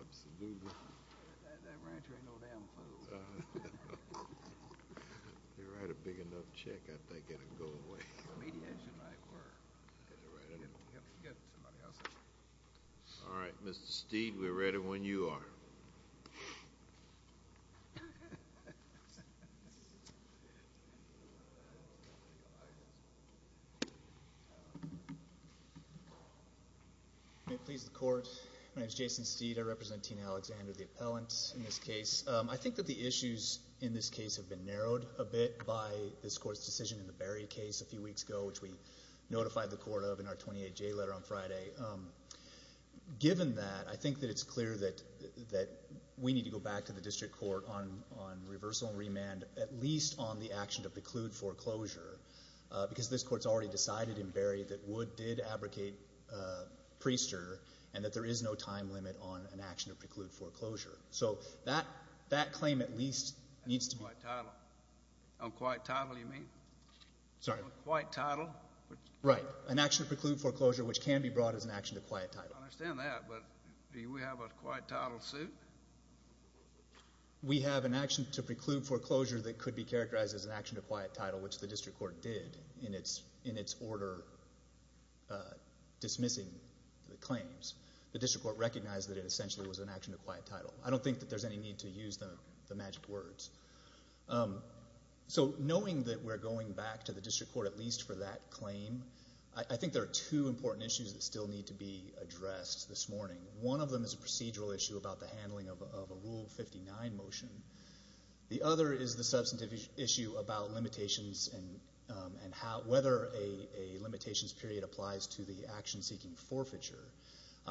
Absolutely. All right, Mr. Steed, we're ready when you are. May it please the Court, my name is Jason Steed, I represent Tina Alexander, the appellant in this case. I think that the issues in this case have been narrowed a bit by this Court's decision in the Berry case a few weeks ago, which we notified the Court of in our 28-J letter on Friday. Given that, I think that it's clear that we need to go back to the District Court on reversal and remand, at least on the action to preclude foreclosure, because this Court's already decided in Berry that Wood did abrogate Priester, and that there is no time limit on an action to preclude foreclosure. So that claim at least needs to be— On quiet title, you mean? Sorry? On quiet title. Right. An action to preclude foreclosure, which can be brought as an action to quiet title. I understand that, but do we have a quiet title suit? We have an action to preclude foreclosure that could be characterized as an action to quiet title, which the District Court did in its order dismissing the claims. The District Court recognized that it essentially was an action to quiet title. I don't think that there's any need to use the magic words. So, knowing that we're going back to the District Court at least for that claim, I think there are two important issues that still need to be addressed this morning. One of them is a procedural issue about the handling of a Rule 59 motion. The other is the substantive issue about limitations and whether a limitations period applies to the action seeking forfeiture.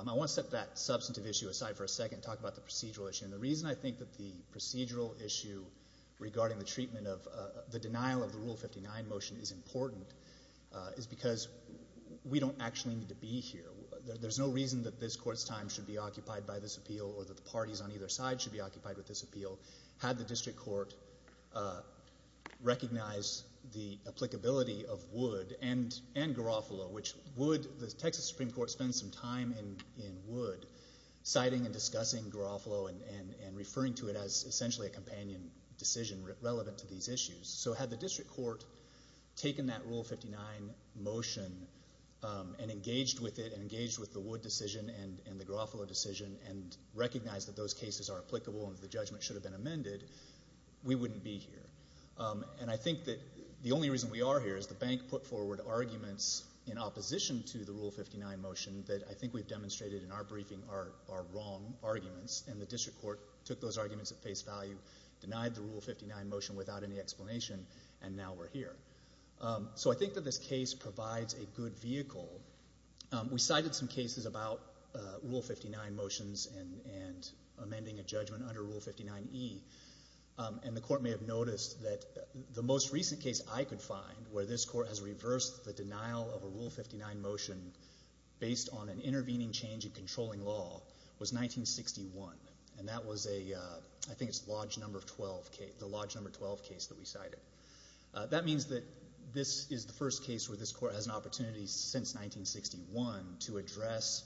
I want to set that substantive issue aside for a second and talk about the procedural issue. And the reason I think that the procedural issue regarding the treatment of the denial of the Rule 59 motion is important is because we don't actually need to be here. There's no reason that this Court's time should be occupied by this appeal or that the parties on either side should be occupied with this appeal. Had the District Court recognized the applicability of Wood and Garofalo, which the Texas Supreme Court spends some time in Wood, citing and discussing Garofalo and referring to it as essentially a companion decision relevant to these issues. So had the District Court taken that Rule 59 motion and engaged with it and engaged with the Wood decision and the Garofalo decision and recognized that those cases are applicable and the judgment should have been amended, we wouldn't be here. And I think that the only reason we are here is the bank put forward arguments in opposition to the Rule 59 motion that I think we've demonstrated in our briefing are wrong arguments. And the District Court took those arguments at face value, denied the Rule 59 motion without any explanation, and now we're here. So I think that this case provides a good vehicle. We cited some cases about Rule 59 motions and amending a judgment under Rule 59e. And the Court may have noticed that the most recent case I could find where this Court has reversed the denial of a Rule 59 motion based on an intervening change in controlling law was 1961. And that was a, I think it's Lodge No. 12 case, the Lodge No. 12 case that we cited. That means that this is the first case where this Court has an opportunity since 1961 to address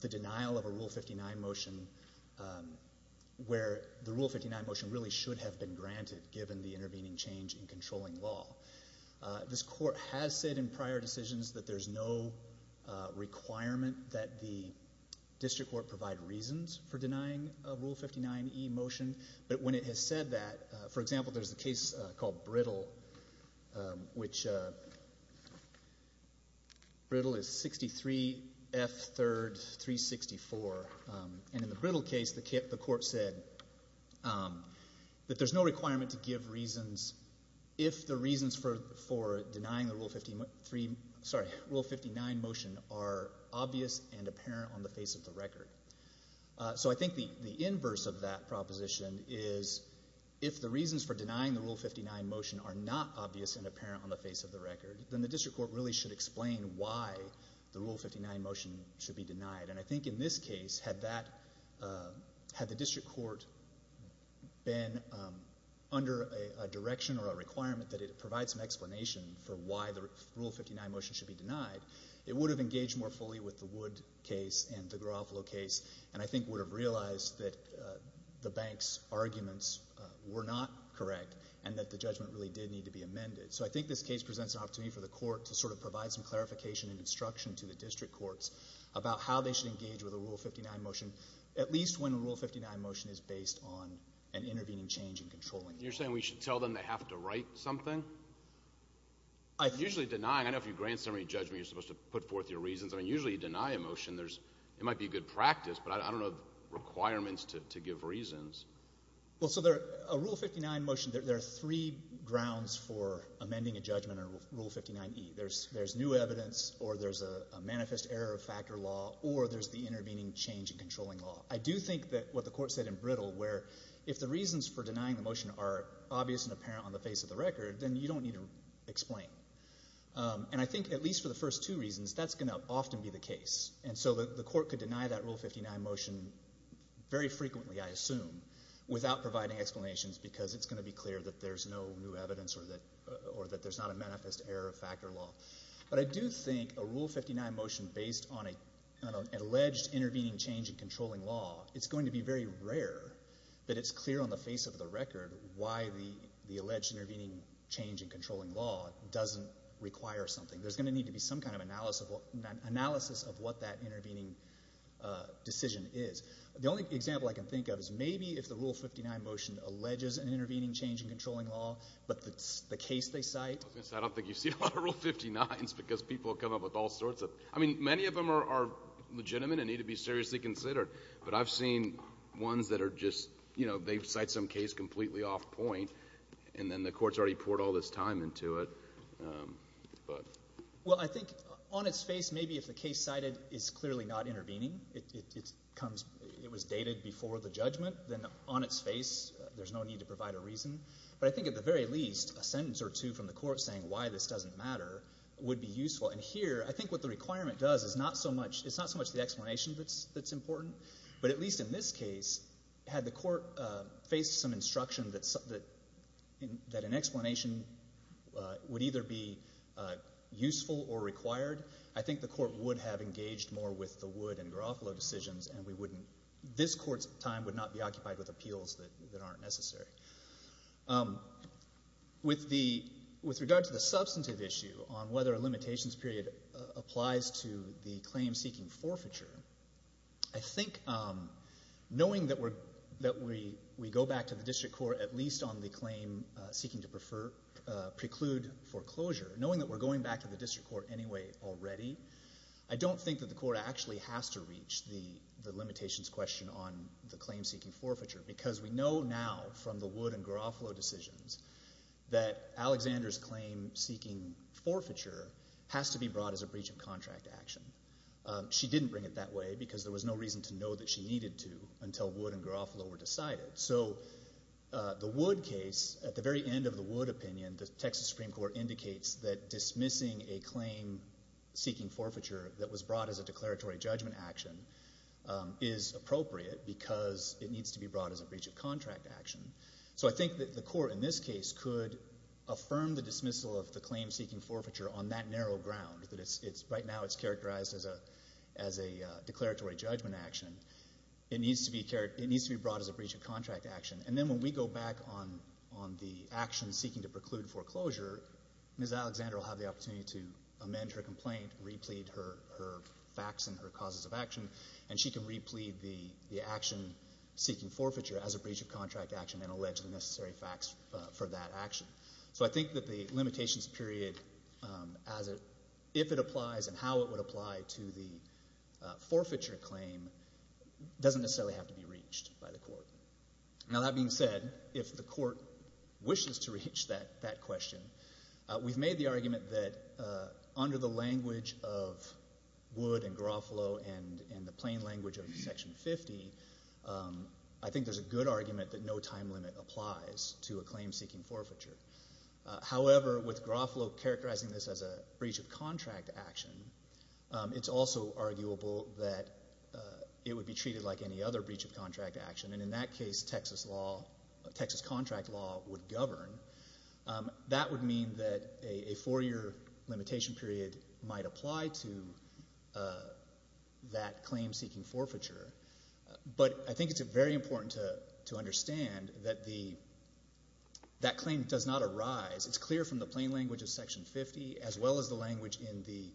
the denial of a Rule 59 motion where the Rule 59 motion really should have been This Court has said in prior decisions that there's no requirement that the District Court provide reasons for denying a Rule 59e motion, but when it has said that, for example, there's a case called Brittle, which Brittle is 63 F 3rd 364, and in the Brittle case, the Court said that there's no requirement to give reasons if the reasons for denying the Rule 53, sorry, Rule 59 motion are obvious and apparent on the face of the record. So I think the inverse of that proposition is if the reasons for denying the Rule 59 motion are not obvious and apparent on the face of the record, then the District Court really should explain why the Rule 59 motion should be denied. And I think in this case, had the District Court been under a direction or a requirement that it provide some explanation for why the Rule 59 motion should be denied, it would have engaged more fully with the Wood case and the Garofalo case, and I think would have realized that the bank's arguments were not correct and that the judgment really did need to be amended. So I think this case presents an opportunity for the Court to sort of provide some clarification and instruction to the District Courts about how they should engage with a Rule 59 motion, at least when a Rule 59 motion is based on an intervening change in controlling it. You're saying we should tell them they have to write something? Usually denying, I don't know if you grant summary judgment, you're supposed to put forth your reasons. I mean, usually you deny a motion. There's, it might be a good practice, but I don't know the requirements to give reasons. Well, so there, a Rule 59 motion, there are three grounds for amending a judgment under Rule 59e. There's new evidence, or there's a manifest error of factor law, or there's the intervening change in controlling law. I do think that what the Court said in Brittle, where if the reasons for denying the motion are obvious and apparent on the face of the record, then you don't need to explain. And I think at least for the first two reasons, that's going to often be the case. And so the Court could deny that Rule 59 motion very frequently, I assume, without providing explanations because it's going to be clear that there's no new evidence or that there's not a manifest error of factor law. But I do think a Rule 59 motion based on an alleged intervening change in controlling law, it's going to be very rare that it's clear on the face of the record why the alleged intervening change in controlling law doesn't require something. There's going to need to be some kind of analysis of what that intervening decision is. The only example I can think of is maybe if the Rule 59 motion alleges an intervening change in controlling law, but the case they cite — I don't think you've seen a lot of Rule 59s because people come up with all sorts of — I mean, many of them are legitimate and need to be seriously considered. But I've seen ones that are just — you know, they cite some case completely off point, and then the Court's already poured all this time into it. Well, I think on its face, maybe if the case cited is clearly not intervening, it comes — it was dated before the judgment, then on its face, there's no need to provide a reason. But I think at the very least, a sentence or two from the Court saying why this doesn't matter would be useful. And here, I think what the requirement does is not so much — it's not so much the explanation that's important, but at least in this case, had the Court faced some instruction that an explanation would either be useful or required, I think the Court would have engaged more with the Wood and Garofalo decisions, and we wouldn't — this Court's time would not be occupied with appeals that aren't necessary. With regard to the substantive issue on whether a limitations period applies to the claim-seeking forfeiture, I think knowing that we go back to the District Court at least on the claim seeking to preclude foreclosure, knowing that we're going back to the District Court anyway already, I don't think that the Court actually has to reach the limitations question on the claim-seeking forfeiture, because we know now from the Wood and Garofalo decisions that Alexander's claim-seeking forfeiture has to be brought as a breach of contract action. She didn't bring it that way because there was no reason to know that she needed to until Wood and Garofalo were decided. So the Wood case, at the very end of the Wood opinion, the Texas Supreme Court indicates that dismissing a claim-seeking forfeiture that was brought as a declaratory judgment action is appropriate because it needs to be brought as a breach of contract action. So I think that the Court in this case could affirm the dismissal of the claim-seeking forfeiture on that narrow ground, that it's — right now it's characterized as a declaratory judgment action. It needs to be — it needs to be brought as a breach of contract action. And then when we go back on the action seeking to preclude foreclosure, Ms. Alexander will have the opportunity to amend her complaint, re-plead her facts and her causes of action, and she can re-plead the action seeking forfeiture as a breach of contract action and allege the necessary facts for that action. So I think that the limitations period as a — if it applies and how it would apply to the forfeiture claim doesn't necessarily have to be reached by the Court. Now that being said, if the Court wishes to reach that question, we've made the argument that under the language of Wood and Garofalo and the plain language of Section 50, I think there's a good argument that no time limit applies to a claim-seeking forfeiture. However, with Garofalo characterizing this as a breach of contract action, it's also arguable that it would be treated like any other breach of contract action, and in that case, Texas law — Texas contract law would govern. That would mean that a four-year limitation period might apply to that claim-seeking forfeiture. But I think it's very important to understand that the — that claim does not arise — it's clear from the plain language of Section 50, as well as the language in the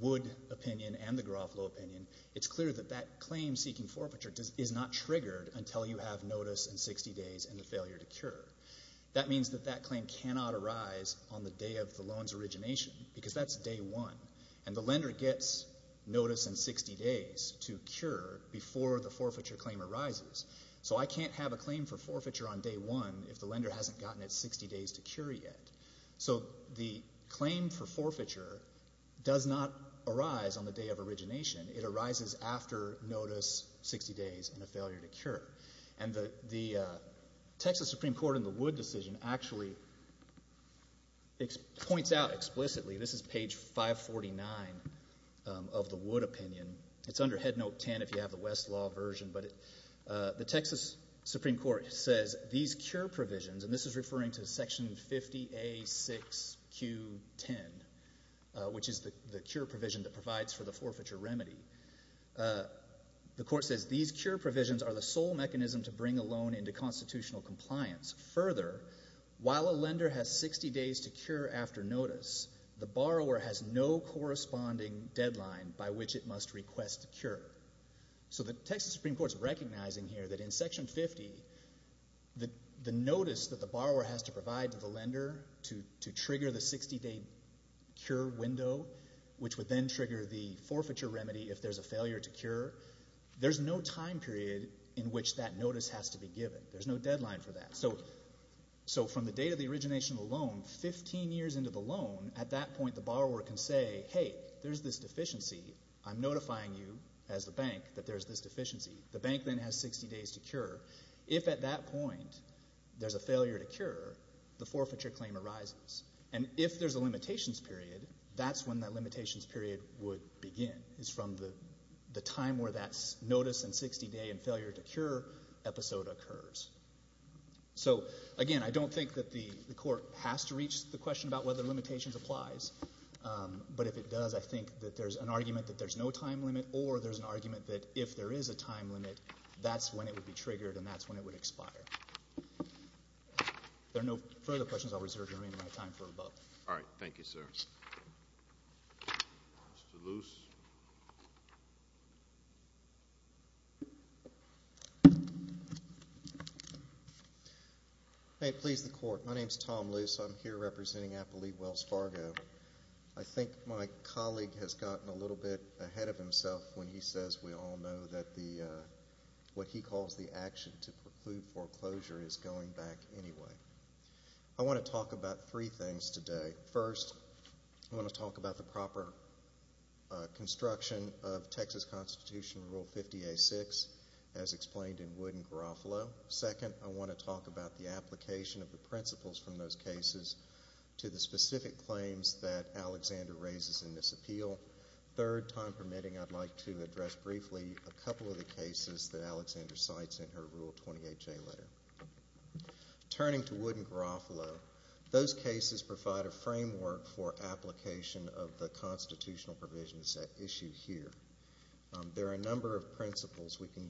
Wood opinion and the Garofalo opinion, it's clear that that claim-seeking forfeiture is not triggered until you have notice and 60 days and a failure to cure. That means that that claim cannot arise on the day of the loan's origination, because that's day one, and the lender gets notice and 60 days to cure before the forfeiture claim arises. So I can't have a claim for forfeiture on day one if the lender hasn't gotten its 60 days to cure yet. So the claim for forfeiture does not arise on the day of origination. It arises after notice, 60 days, and a failure to cure. And the Texas Supreme Court in the Wood decision actually points out explicitly — this is page 549 of the Wood opinion. It's under headnote 10 if you have the Westlaw version, but the Texas Supreme Court says these cure provisions — and this is referring to Section 50A6Q10, which is the cure provision that provides for the forfeiture remedy. The court says these cure provisions are the sole mechanism to bring a loan into constitutional compliance. Further, while a lender has 60 days to cure after notice, the borrower has no corresponding deadline by which it must request a cure. So the Texas Supreme Court is recognizing here that in Section 50, the notice that the borrower has to provide to the lender to trigger the 60-day cure window, which would then trigger the forfeiture remedy if there's a failure to cure, there's no time period in which that notice has to be given. There's no deadline for that. So from the date of the origination of the loan, 15 years into the loan, at that point the borrower can say, hey, there's this deficiency. I'm notifying you as the bank that there's this deficiency. The bank then has 60 days to cure. If at that point there's a failure to cure, the forfeiture claim arises. And if there's a limitations period, that's when that limitations period would begin, is from the time where that notice and 60-day and failure to cure episode occurs. So again, I don't think that the court has to reach the question about whether limitations applies, but if it does, I think that there's an argument that there's no time limit or there's an argument that if there is a time limit, that's when it would be triggered and that's when it would expire. If there are no further questions, I'll reserve your remaining time for rebuttal. All right. Thank you, sir. Mr. Luce. May it please the Court, my name is Tom Luce. I'm here representing Appleby Wells Fargo. I think my colleague has gotten a little bit ahead of himself when he says we all know that what he calls the action to preclude foreclosure is going back anyway. I want to talk about three things today. First, I want to talk about the proper construction of Texas Constitution Rule 50-A-6, as explained in Wood and Garofalo. Second, I want to talk about the application of the principles from those cases to the specific claims that Alexander raises in this appeal. Third, time permitting, I'd like to address briefly a couple of the cases that Alexander cites in her Rule 28J letter. Turning to Wood and Garofalo, those cases provide a framework for application of the constitutional provisions at issue here. There are a number of principles we can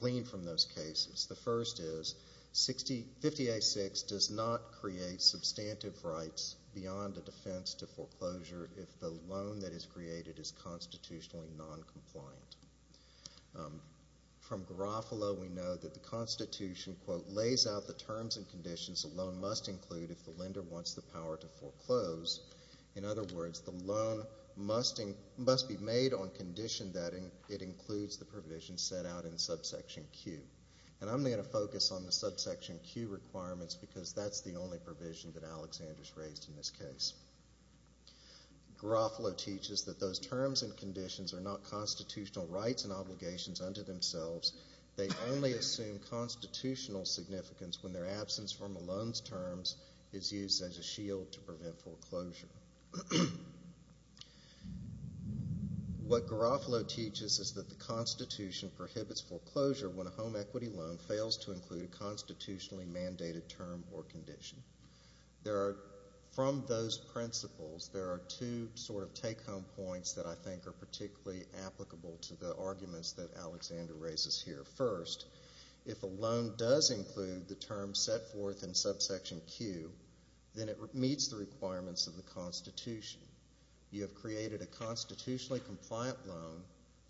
glean from those cases. The first is 50-A-6 does not create substantive rights beyond the defense to foreclosure if the loan that is created is constitutionally noncompliant. From Garofalo, we know that the Constitution, quote, lays out the terms and conditions a loan must include if the lender wants the power to foreclose. In other words, the loan must be made on condition that it includes the provisions set out in subsection Q. And I'm going to focus on the subsection Q requirements because that's the only provision that Alexander's raised in this case. Garofalo teaches that those terms and conditions are not constitutional rights and obligations unto themselves. They only assume constitutional significance when their absence from a loan's terms is used as a shield to prevent foreclosure. What Garofalo teaches is that the Constitution prohibits foreclosure when a home equity loan fails to include a constitutionally mandated term or condition. From those principles, there are two sort of take-home points that I think are particularly applicable to the arguments that Alexander raises here. First, if a loan does include the terms set forth in subsection Q, then it meets the requirements of the Constitution. You have created a constitutionally compliant loan.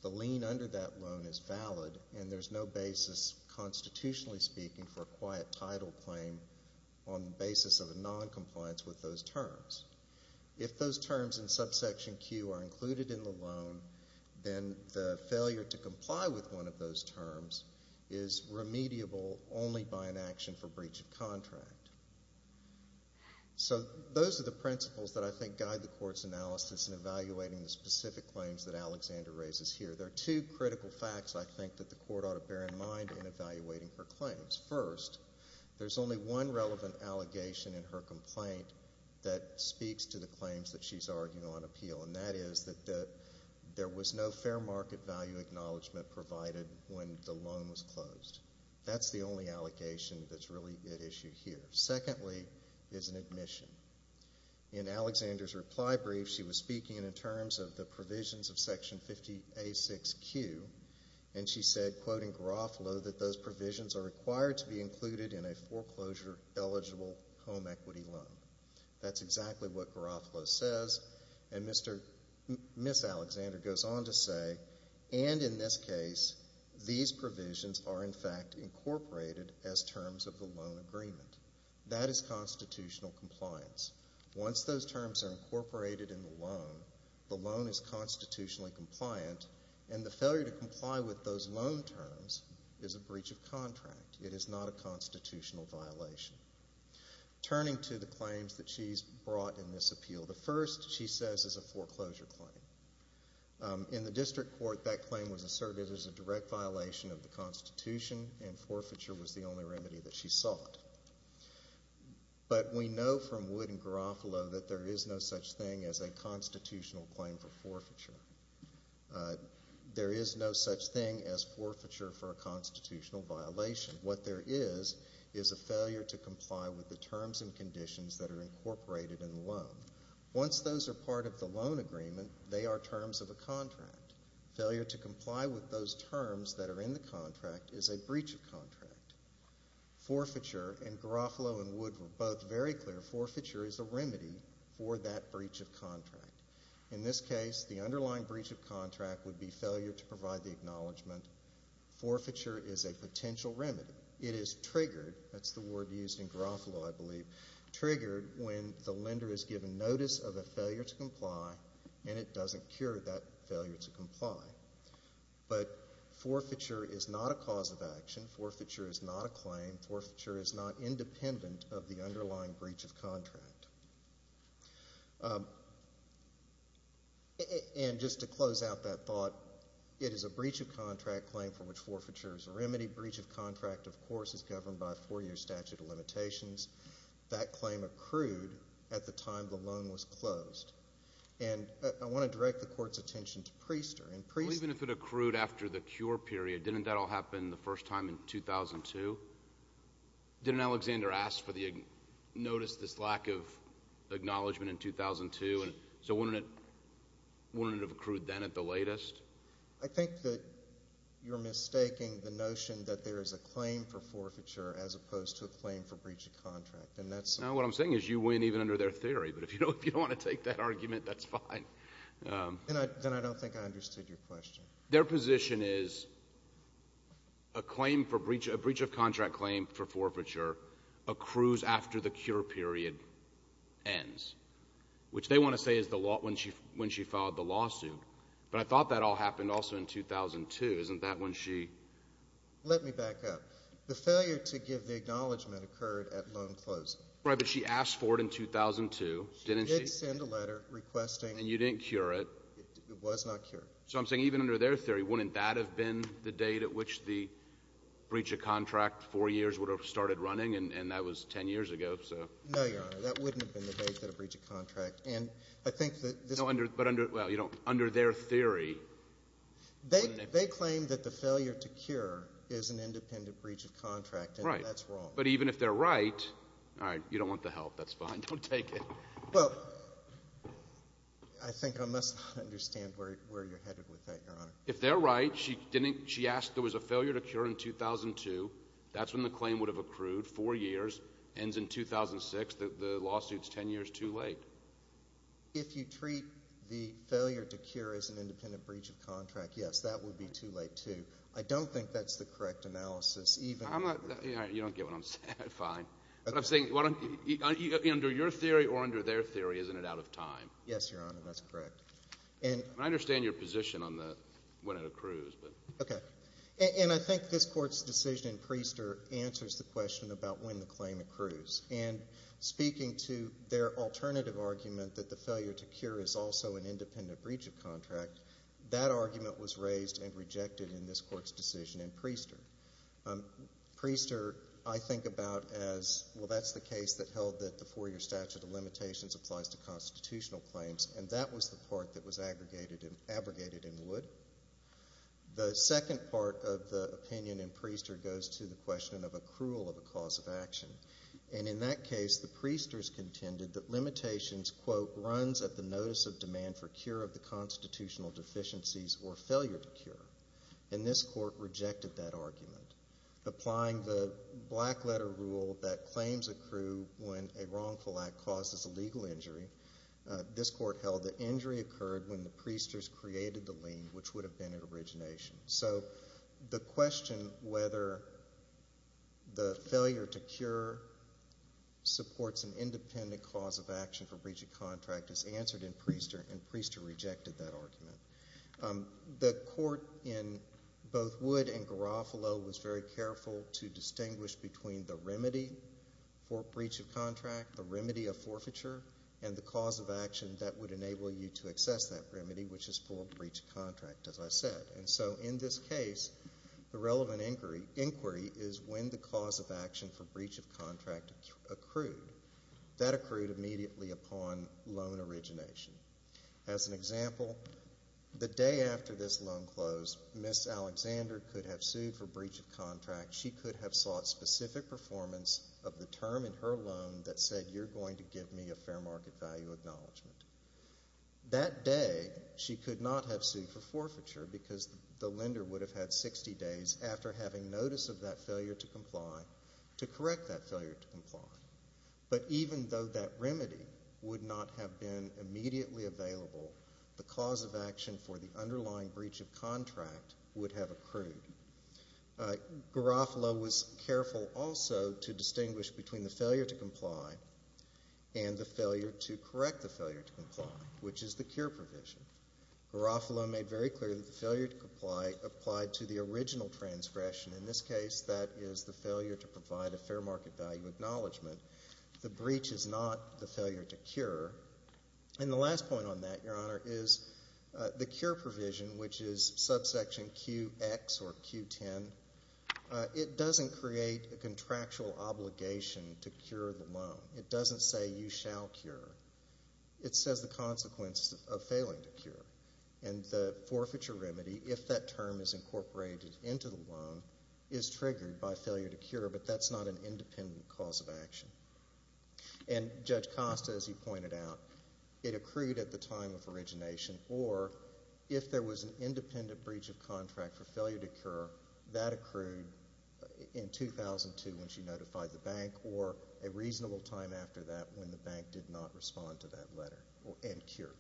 The lien under that loan is valid, and there's no basis, constitutionally speaking, for a quiet title claim on the basis of a noncompliance with those terms. If those terms in subsection Q are included in the loan, then the failure to comply with one of those terms is remediable only by an action for breach of contract. So those are the principles that I think guide the Court's analysis in evaluating the specific claims that Alexander raises here. There are two critical facts, I think, that the Court ought to bear in mind in evaluating her claims. First, there's only one relevant allegation in her complaint that speaks to the claims that she's arguing on appeal, and that is that there was no fair market value acknowledgement provided when the loan was closed. That's the only allegation that's really at issue here. Secondly is an admission. In Alexander's reply brief, she was speaking in terms of the provisions of Section 50A6Q, and she said, quoting Garofalo, that those provisions are required to be included in a foreclosure-eligible home equity loan. That's exactly what Garofalo says, and Ms. Alexander goes on to say, and in this case, these provisions are, in fact, incorporated as terms of the loan agreement. That is constitutional compliance. Once those terms are incorporated in the loan, the loan is constitutionally compliant, and the failure to comply with those loan terms is a breach of contract. It is not a constitutional violation. Turning to the claims that she's brought in this appeal, the first, she says, is a foreclosure claim. In the District Court, that claim was asserted as a direct violation of the Constitution, and forfeiture was the only remedy that she sought. But we know from Wood and Garofalo that there is no such thing as a constitutional claim for forfeiture. There is no such thing as forfeiture for a constitutional violation. What there is is a failure to comply with the terms and conditions that are incorporated in the loan. Once those are part of the loan agreement, they are terms of a contract. Failure to comply with those terms that are in the contract is a breach of contract. Forfeiture, and Garofalo and Wood were both very clear, forfeiture is a remedy for that breach of contract. In this case, the underlying breach of contract would be failure to provide the acknowledgement. Forfeiture is a potential remedy. It is triggered, that's the word used in Garofalo, I believe, triggered when the lender is given notice of a failure to comply and it doesn't cure that failure to comply. But forfeiture is not a cause of action. Forfeiture is not a claim. Forfeiture is not independent of the underlying breach of contract. And just to close out that thought, it is a breach of contract claim for which forfeiture is a remedy. Breach of contract, of course, is governed by a four-year statute of limitations. That claim accrued at the time the loan was closed. And I want to direct the Court's attention to Priester. Even if it accrued after the cure period, didn't that all happen the first time in 2002? Didn't Alexander ask for the notice, this lack of acknowledgement in 2002? So wouldn't it have accrued then at the latest? I think that you're mistaking the notion that there is a claim for forfeiture as opposed to a claim for breach of contract. Now what I'm saying is you win even under their theory. But if you don't want to take that argument, that's fine. Then I don't think I understood your question. Their position is a breach of contract claim for forfeiture accrues after the cure period ends, which they want to say is when she filed the lawsuit. But I thought that all happened also in 2002. Isn't that when she? Let me back up. The failure to give the acknowledgement occurred at loan closing. Right, but she asked for it in 2002, didn't she? She did send a letter requesting. And you didn't cure it. It was not cured. So I'm saying even under their theory, wouldn't that have been the date at which the breach of contract, four years would have started running, and that was ten years ago? No, Your Honor, that wouldn't have been the date that a breach of contract. And I think that this. No, but under their theory. They claim that the failure to cure is an independent breach of contract, and that's wrong. Right, but even if they're right, all right, you don't want the help. That's fine. Don't take it. Well, I think I must not understand where you're headed with that, Your Honor. If they're right, she asked there was a failure to cure in 2002. That's when the claim would have accrued, four years, ends in 2006. The lawsuit's ten years too late. If you treat the failure to cure as an independent breach of contract, yes, that would be too late too. I don't think that's the correct analysis. You don't get what I'm saying. Fine. But I'm saying under your theory or under their theory, isn't it out of time? Yes, Your Honor, that's correct. I understand your position on when it accrues. Okay. And I think this Court's decision in Priester answers the question about when the claim accrues. And speaking to their alternative argument that the failure to cure is also an independent breach of contract, that argument was raised and rejected in this Court's decision in Priester. Priester I think about as, well, that's the case that held that the four-year statute of limitations applies to constitutional claims, and that was the part that was abrogated in Wood. The second part of the opinion in Priester goes to the question of accrual of a cause of action. And in that case, the Priesters contended that limitations, quote, runs at the notice of demand for cure of the constitutional deficiencies or failure to cure. And this Court rejected that argument. Applying the black-letter rule that claims accrue when a wrongful act causes a legal injury, this Court held that injury occurred when the Priesters created the lien, which would have been at origination. So the question whether the failure to cure supports an independent cause of action for breach of contract is answered in Priester, and Priester rejected that argument. The Court in both Wood and Garofalo was very careful to distinguish between the remedy for breach of contract, the remedy of forfeiture, and the cause of action that would enable you to access that remedy, which is for breach of contract, as I said. And so in this case, the relevant inquiry is when the cause of action for breach of contract accrued. That accrued immediately upon loan origination. As an example, the day after this loan closed, Miss Alexander could have sued for breach of contract. She could have sought specific performance of the term in her loan that said, you're going to give me a fair market value acknowledgement. That day, she could not have sued for forfeiture because the lender would have had 60 days after having notice of that failure to comply to correct that failure to comply. But even though that remedy would not have been immediately available, the cause of action for the underlying breach of contract would have accrued. Garofalo was careful also to distinguish between the failure to comply and the failure to correct the failure to comply, which is the cure provision. Garofalo made very clear that the failure to comply applied to the original transgression. In this case, that is the failure to provide a fair market value acknowledgement. The breach is not the failure to cure. And the last point on that, Your Honor, is the cure provision, which is subsection QX or Q10, it doesn't create a contractual obligation to cure the loan. It doesn't say you shall cure. It says the consequence of failing to cure. And the forfeiture remedy, if that term is incorporated into the loan, is triggered by failure to cure, but that's not an independent cause of action. And Judge Costa, as you pointed out, it accrued at the time of origination, or if there was an independent breach of contract for failure to cure, that accrued in 2002 when she notified the bank, or a reasonable time after that when the bank did not respond to that letter and cure.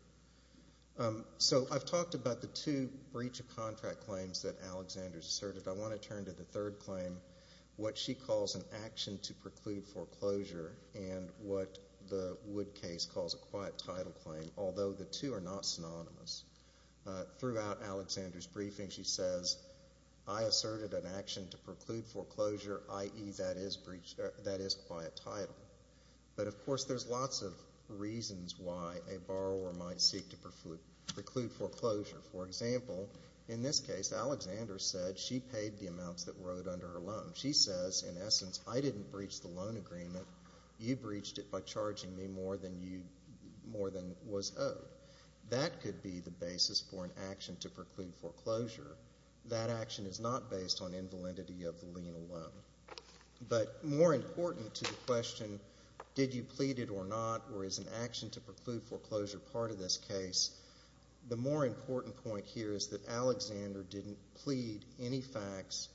So I've talked about the two breach of contract claims that Alexander's asserted. I want to turn to the third claim, what she calls an action to preclude foreclosure, and what the Wood case calls a quiet title claim, although the two are not synonymous. Throughout Alexander's briefing, she says, I asserted an action to preclude foreclosure, i.e., that is quiet title. But, of course, there's lots of reasons why a borrower might seek to preclude foreclosure. For example, in this case, Alexander said she paid the amounts that were owed under her loan. She says, in essence, I didn't breach the loan agreement. You breached it by charging me more than was owed. That could be the basis for an action to preclude foreclosure. That action is not based on invalidity of the lien alone. But more important to the question, did you plead it or not, or is an action to preclude foreclosure part of this case, the more important point here is that Alexander didn't plead any facts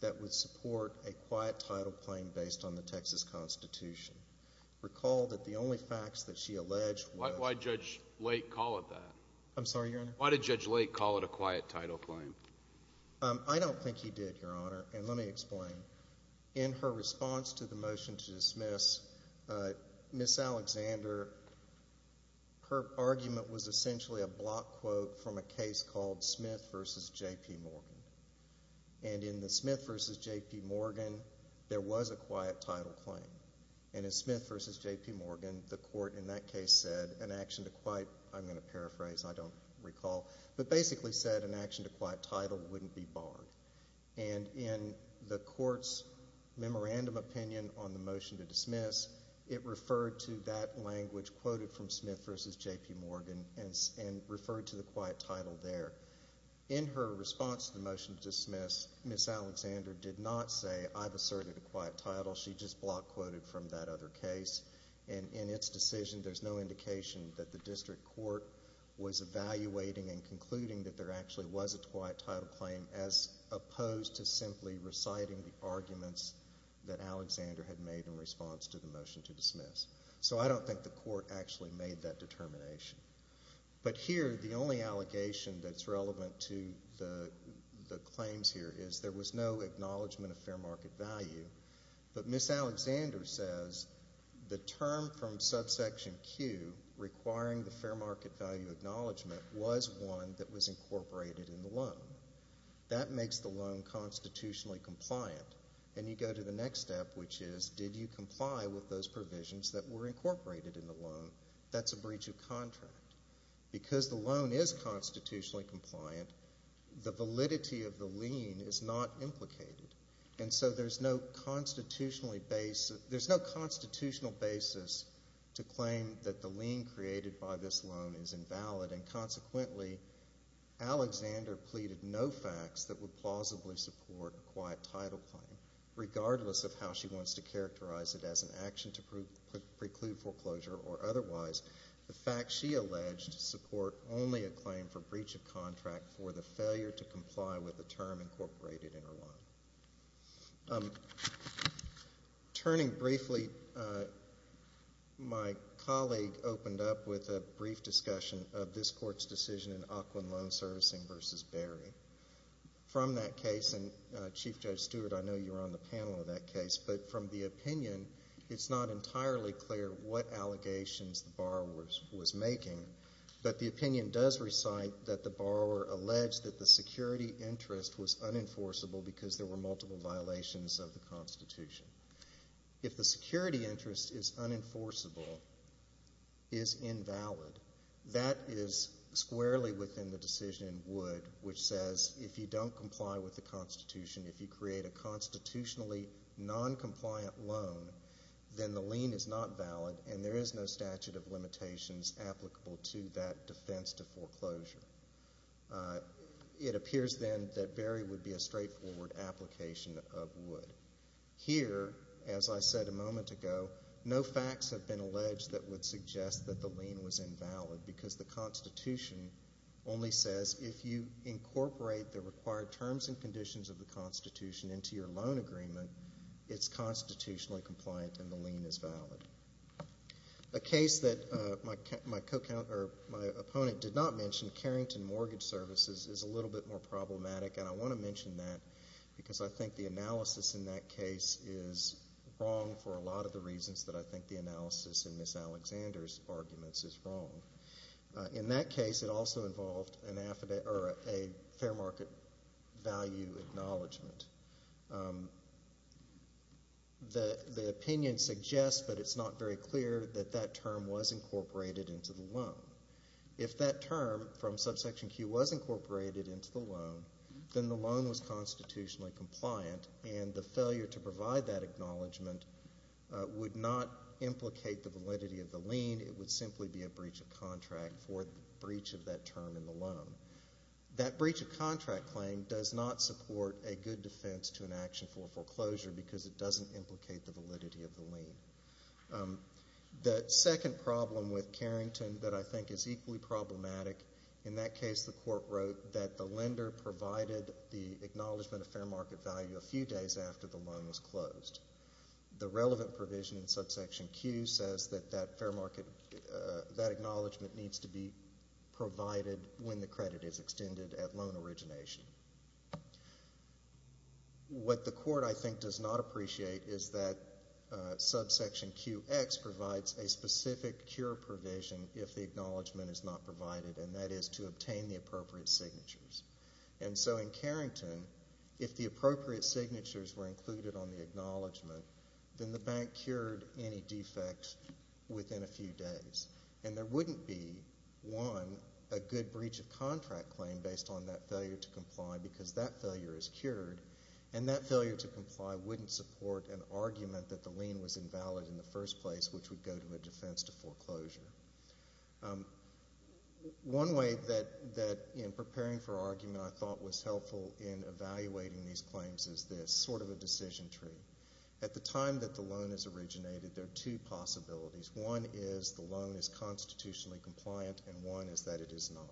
that would support a quiet title claim based on the Texas Constitution. Recall that the only facts that she alleged were— Why did Judge Lake call it that? I'm sorry, Your Honor? Why did Judge Lake call it a quiet title claim? I don't think he did, Your Honor, and let me explain. In her response to the motion to dismiss, Ms. Alexander, her argument was essentially a block quote from a case called Smith v. J.P. Morgan. And in the Smith v. J.P. Morgan, there was a quiet title claim. And in Smith v. J.P. Morgan, the court in that case said an action to quiet— I'm going to paraphrase, I don't recall— but basically said an action to quiet title wouldn't be barred. And in the court's memorandum opinion on the motion to dismiss, it referred to that language quoted from Smith v. J.P. Morgan and referred to the quiet title there. In her response to the motion to dismiss, Ms. Alexander did not say, I've asserted a quiet title. She just block quoted from that other case. And in its decision, there's no indication that the district court was evaluating and concluding that there actually was a quiet title claim as opposed to simply reciting the arguments that Alexander had made in response to the motion to dismiss. So I don't think the court actually made that determination. But here, the only allegation that's relevant to the claims here is there was no acknowledgment of fair market value. But Ms. Alexander says the term from subsection Q requiring the fair market value acknowledgment was one that was incorporated in the loan. That makes the loan constitutionally compliant. And you go to the next step, which is, did you comply with those provisions that were incorporated in the loan? That's a breach of contract. Because the loan is constitutionally compliant, the validity of the lien is not implicated. And so there's no constitutional basis to claim that the lien created by this loan is invalid, and consequently, Alexander pleaded no facts that would plausibly support a quiet title claim, regardless of how she wants to characterize it as an action to preclude foreclosure or otherwise. The facts she alleged support only a claim for breach of contract for the failure to comply with the term incorporated in her loan. Turning briefly, my colleague opened up with a brief discussion of this Court's decision in Aukland Loan Servicing v. Barry. From that case, and Chief Judge Stewart, I know you were on the panel in that case, but from the opinion, it's not entirely clear what allegations the borrower was making. But the opinion does recite that the borrower alleged that the security interest was unenforceable because there were multiple violations of the Constitution. If the security interest is unenforceable, is invalid, that is squarely within the decision in Wood, which says if you don't comply with the Constitution, if you create a constitutionally noncompliant loan, then the lien is not valid, and there is no statute of limitations applicable to that defense to foreclosure. It appears then that Barry would be a straightforward application of Wood. Here, as I said a moment ago, no facts have been alleged that would suggest that the lien was invalid because the Constitution only says if you incorporate the required terms and conditions of the Constitution into your loan agreement, it's constitutionally compliant and the lien is valid. A case that my opponent did not mention, Carrington Mortgage Services, is a little bit more problematic, and I want to mention that because I think the analysis in that case is wrong for a lot of the reasons that I think the analysis in Ms. Alexander's arguments is wrong. In that case, it also involved a fair market value acknowledgement. The opinion suggests, but it's not very clear, that that term was incorporated into the loan. If that term from Subsection Q was incorporated into the loan, then the loan was constitutionally compliant and the failure to provide that acknowledgement would not implicate the validity of the lien. It would simply be a breach of contract for the breach of that term in the loan. That breach of contract claim does not support a good defense to an action for foreclosure because it doesn't implicate the validity of the lien. The second problem with Carrington that I think is equally problematic, in that case the court wrote that the lender provided the acknowledgement of fair market value a few days after the loan was closed. The relevant provision in Subsection Q says that that fair market... that acknowledgement needs to be provided when the credit is extended at loan origination. What the court, I think, does not appreciate is that Subsection QX provides a specific cure provision if the acknowledgement is not provided, and that is to obtain the appropriate signatures. And so in Carrington, if the appropriate signatures were included on the acknowledgement, then the bank cured any defects within a few days. And there wouldn't be, one, a good breach of contract claim based on that failure to comply because that failure is cured, and that failure to comply wouldn't support an argument that the lien was invalid in the first place, which would go to a defense to foreclosure. One way that, in preparing for argument, I thought was helpful in evaluating these claims is this, sort of a decision tree. At the time that the loan is originated, there are two possibilities. One is the loan is constitutionally compliant, and one is that it is not.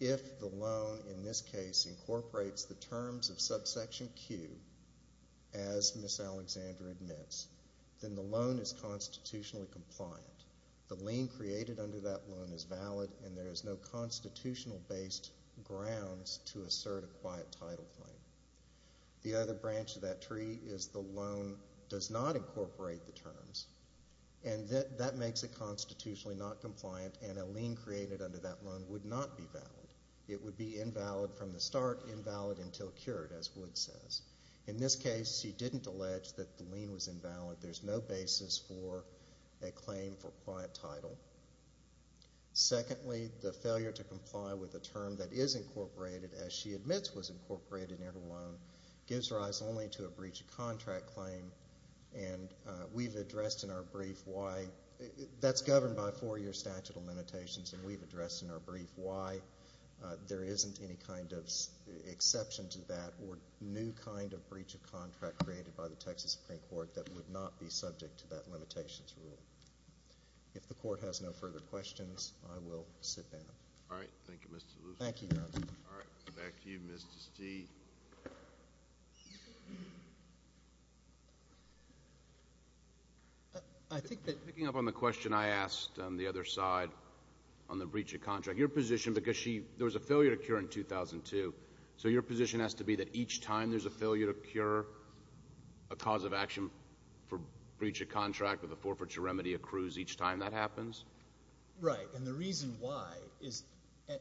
If the loan, in this case, incorporates the terms of Subsection Q, as Ms. Alexander admits, then the loan is constitutionally compliant. The lien created under that loan is valid, and there is no constitutional-based grounds to assert a quiet title claim. The other branch of that tree is the loan does not incorporate the terms, and that makes it constitutionally not compliant, and a lien created under that loan would not be valid. It would be invalid from the start, invalid until cured, as Wood says. In this case, she didn't allege that the lien was invalid. There's no basis for a claim for quiet title. Secondly, the failure to comply with a term that is incorporated, as she admits was incorporated in her loan, gives rise only to a breach of contract claim, and we've addressed in our brief why... That's governed by four-year statute of limitations, and we've addressed in our brief why there isn't any kind of exception to that or new kind of breach of contract created by the Texas Supreme Court that would not be subject to that limitations rule. If the Court has no further questions, I will sit down. All right. Thank you, Mr. Lucey. Thank you, Your Honor. All right. Back to you, Mr. Stee. I think that... Picking up on the question I asked on the other side, on the breach of contract, your position, because she... There was a failure to cure in 2002, so your position has to be that each time there's a failure to cure, a cause of action for breach of contract with a forfeiture remedy accrues each time that happens? Right, and the reason why is,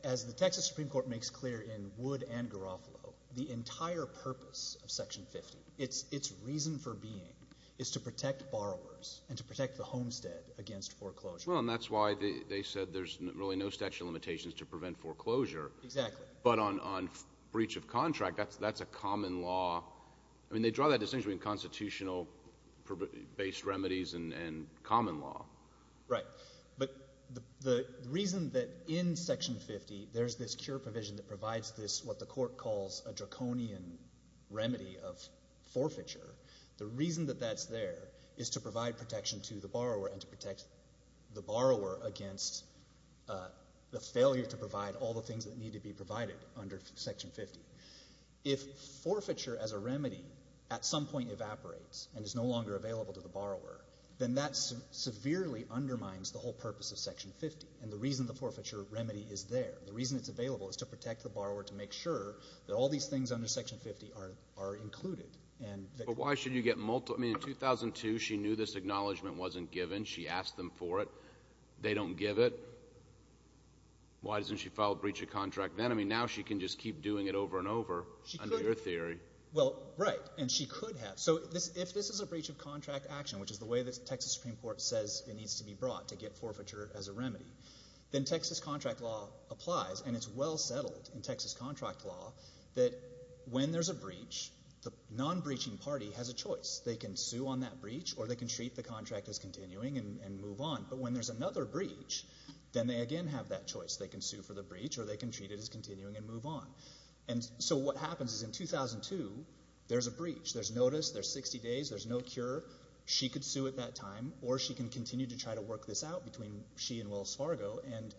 as the Texas Supreme Court makes clear in Wood and Garofalo, the entire purpose of Section 50, its reason for being, is to protect borrowers and to protect the homestead against foreclosure. Well, and that's why they said there's really no statute of limitations to prevent foreclosure. Exactly. But on breach of contract, that's a common law. I mean, they draw that distinction between constitutional-based remedies and common law. Right. But the reason that in Section 50 there's this cure provision that provides this, what the Court calls a draconian remedy of forfeiture, the reason that that's there is to provide protection to the borrower and to protect the borrower against the failure to provide all the things that need to be provided under Section 50. If forfeiture as a remedy at some point evaporates and is no longer available to the borrower, then that severely undermines the whole purpose of Section 50. And the reason the forfeiture remedy is there, the reason it's available, is to protect the borrower to make sure that all these things under Section 50 are included. But why should you get multiple? I mean, in 2002, she knew this acknowledgment wasn't given. She asked them for it. They don't give it. Why doesn't she file a breach of contract then? I mean, now she can just keep doing it over and over, under your theory. Well, right. And she could have. So if this is a breach of contract action, which is the way the Texas Supreme Court says it needs to be brought to get forfeiture as a remedy, then Texas contract law applies, and it's well settled in Texas contract law that when there's a breach, the non-breaching party has a choice. They can sue on that breach or they can treat the contract as continuing and move on. But when there's another breach, then they again have that choice. They can sue for the breach or they can treat it as continuing and move on. And so what happens is in 2002, there's a breach. There's notice. There's 60 days. There's no cure. She could sue at that time or she can continue to try to work this out between she and Wills Fargo and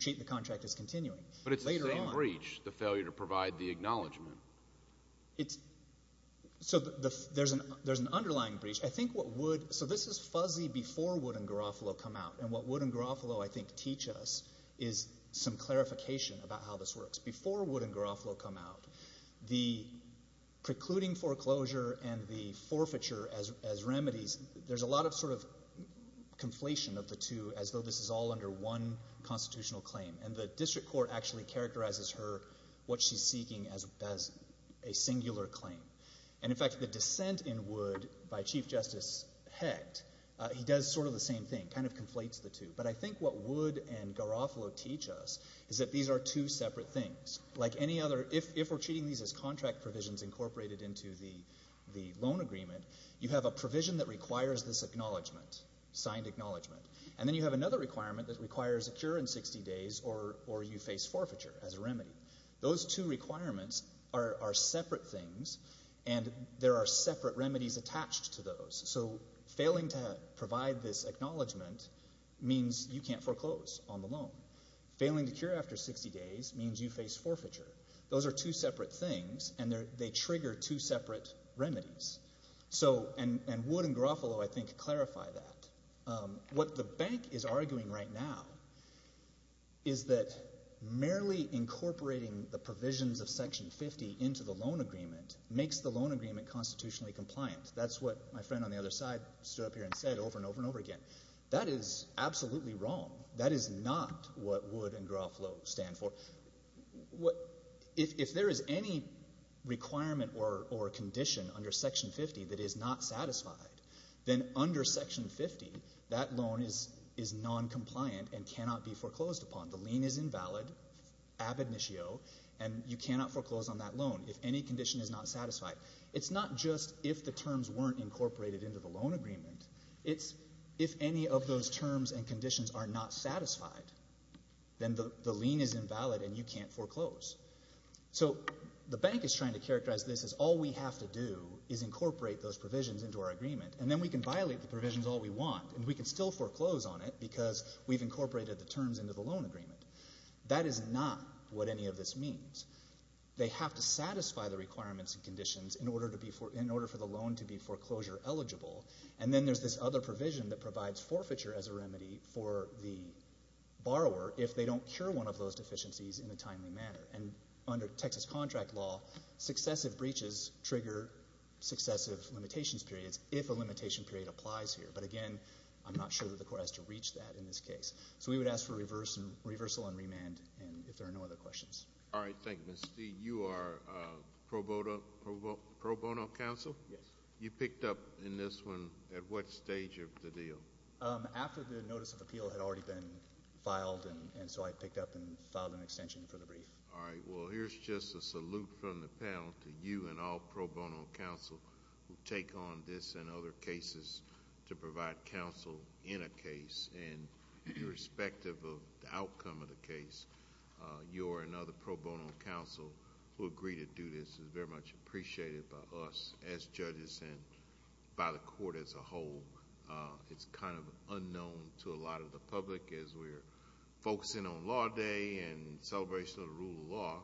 treat the contract as continuing. But it's the same breach, the failure to provide the acknowledgment. So there's an underlying breach. I think what would... So this is fuzzy before Wood and Garofalo come out, and what Wood and Garofalo, I think, teach us is some clarification about how this works. Before Wood and Garofalo come out, the precluding foreclosure and the forfeiture as remedies, there's a lot of sort of conflation of the two as though this is all under one constitutional claim, and the district court actually characterizes her, what she's seeking, as a singular claim. And, in fact, the dissent in Wood by Chief Justice Hecht, he does sort of the same thing, kind of conflates the two. But I think what Wood and Garofalo teach us is that these are two separate things. Like any other... If we're treating these as contract provisions incorporated into the loan agreement, you have a provision that requires this acknowledgment, signed acknowledgment, and then you have another requirement that requires a cure in 60 days or you face forfeiture as a remedy. Those two requirements are separate things, and there are separate remedies attached to those. So failing to provide this acknowledgment means you can't foreclose on the loan. Failing to cure after 60 days means you face forfeiture. Those are two separate things, and they trigger two separate remedies. So, and Wood and Garofalo, I think, clarify that. What the bank is arguing right now is that merely incorporating the provisions of Section 50 into the loan agreement makes the loan agreement constitutionally compliant. That's what my friend on the other side stood up here and said over and over and over again. That is absolutely wrong. That is not what Wood and Garofalo stand for. If there is any requirement or condition under Section 50 that is not satisfied, then under Section 50, that loan is noncompliant and cannot be foreclosed upon. The lien is invalid, ab initio, and you cannot foreclose on that loan if any condition is not satisfied. It's not just if the terms weren't incorporated into the loan agreement. It's if any of those terms and conditions are not satisfied, then the lien is invalid and you can't foreclose. So the bank is trying to characterize this as all we have to do is incorporate those provisions into our agreement, and then we can violate the provisions all we want, and we can still foreclose on it because we've incorporated the terms into the loan agreement. That is not what any of this means. They have to satisfy the requirements and conditions in order for the loan to be foreclosure eligible, and then there's this other provision that provides forfeiture as a remedy for the borrower if they don't cure one of those deficiencies in a timely manner. And under Texas contract law, successive breaches trigger successive limitations periods if a limitation period applies here. But again, I'm not sure that the court has to reach that in this case. So we would ask for reversal and remand if there are no other questions. All right, thank you, Mr. Steele. You are pro bono counsel? Yes. You picked up in this one at what stage of the deal? After the notice of appeal had already been filed, and so I picked up and filed an extension for the brief. All right, well, here's just a salute from the panel to you and all pro bono counsel who take on this and other cases to provide counsel in a case. And irrespective of the outcome of the case, you and other pro bono counsel who agree to do this is very much appreciated by us as judges and by the court as a whole. It's kind of unknown to a lot of the public as we're focusing on Law Day and celebration of the rule of law,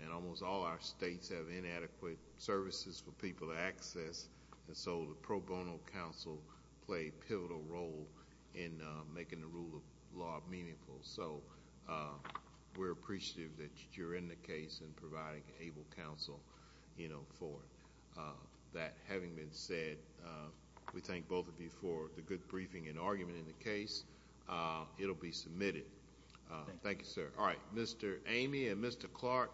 and almost all our states have inadequate services for people to access, and so the pro bono counsel play a pivotal role in making the rule of law meaningful. So we're appreciative that you're in the case and providing able counsel for that. Having been said, we thank both of you for the good briefing and argument in the case. It will be submitted. Thank you, sir. All right, Mr. Amey and Mr. Clark.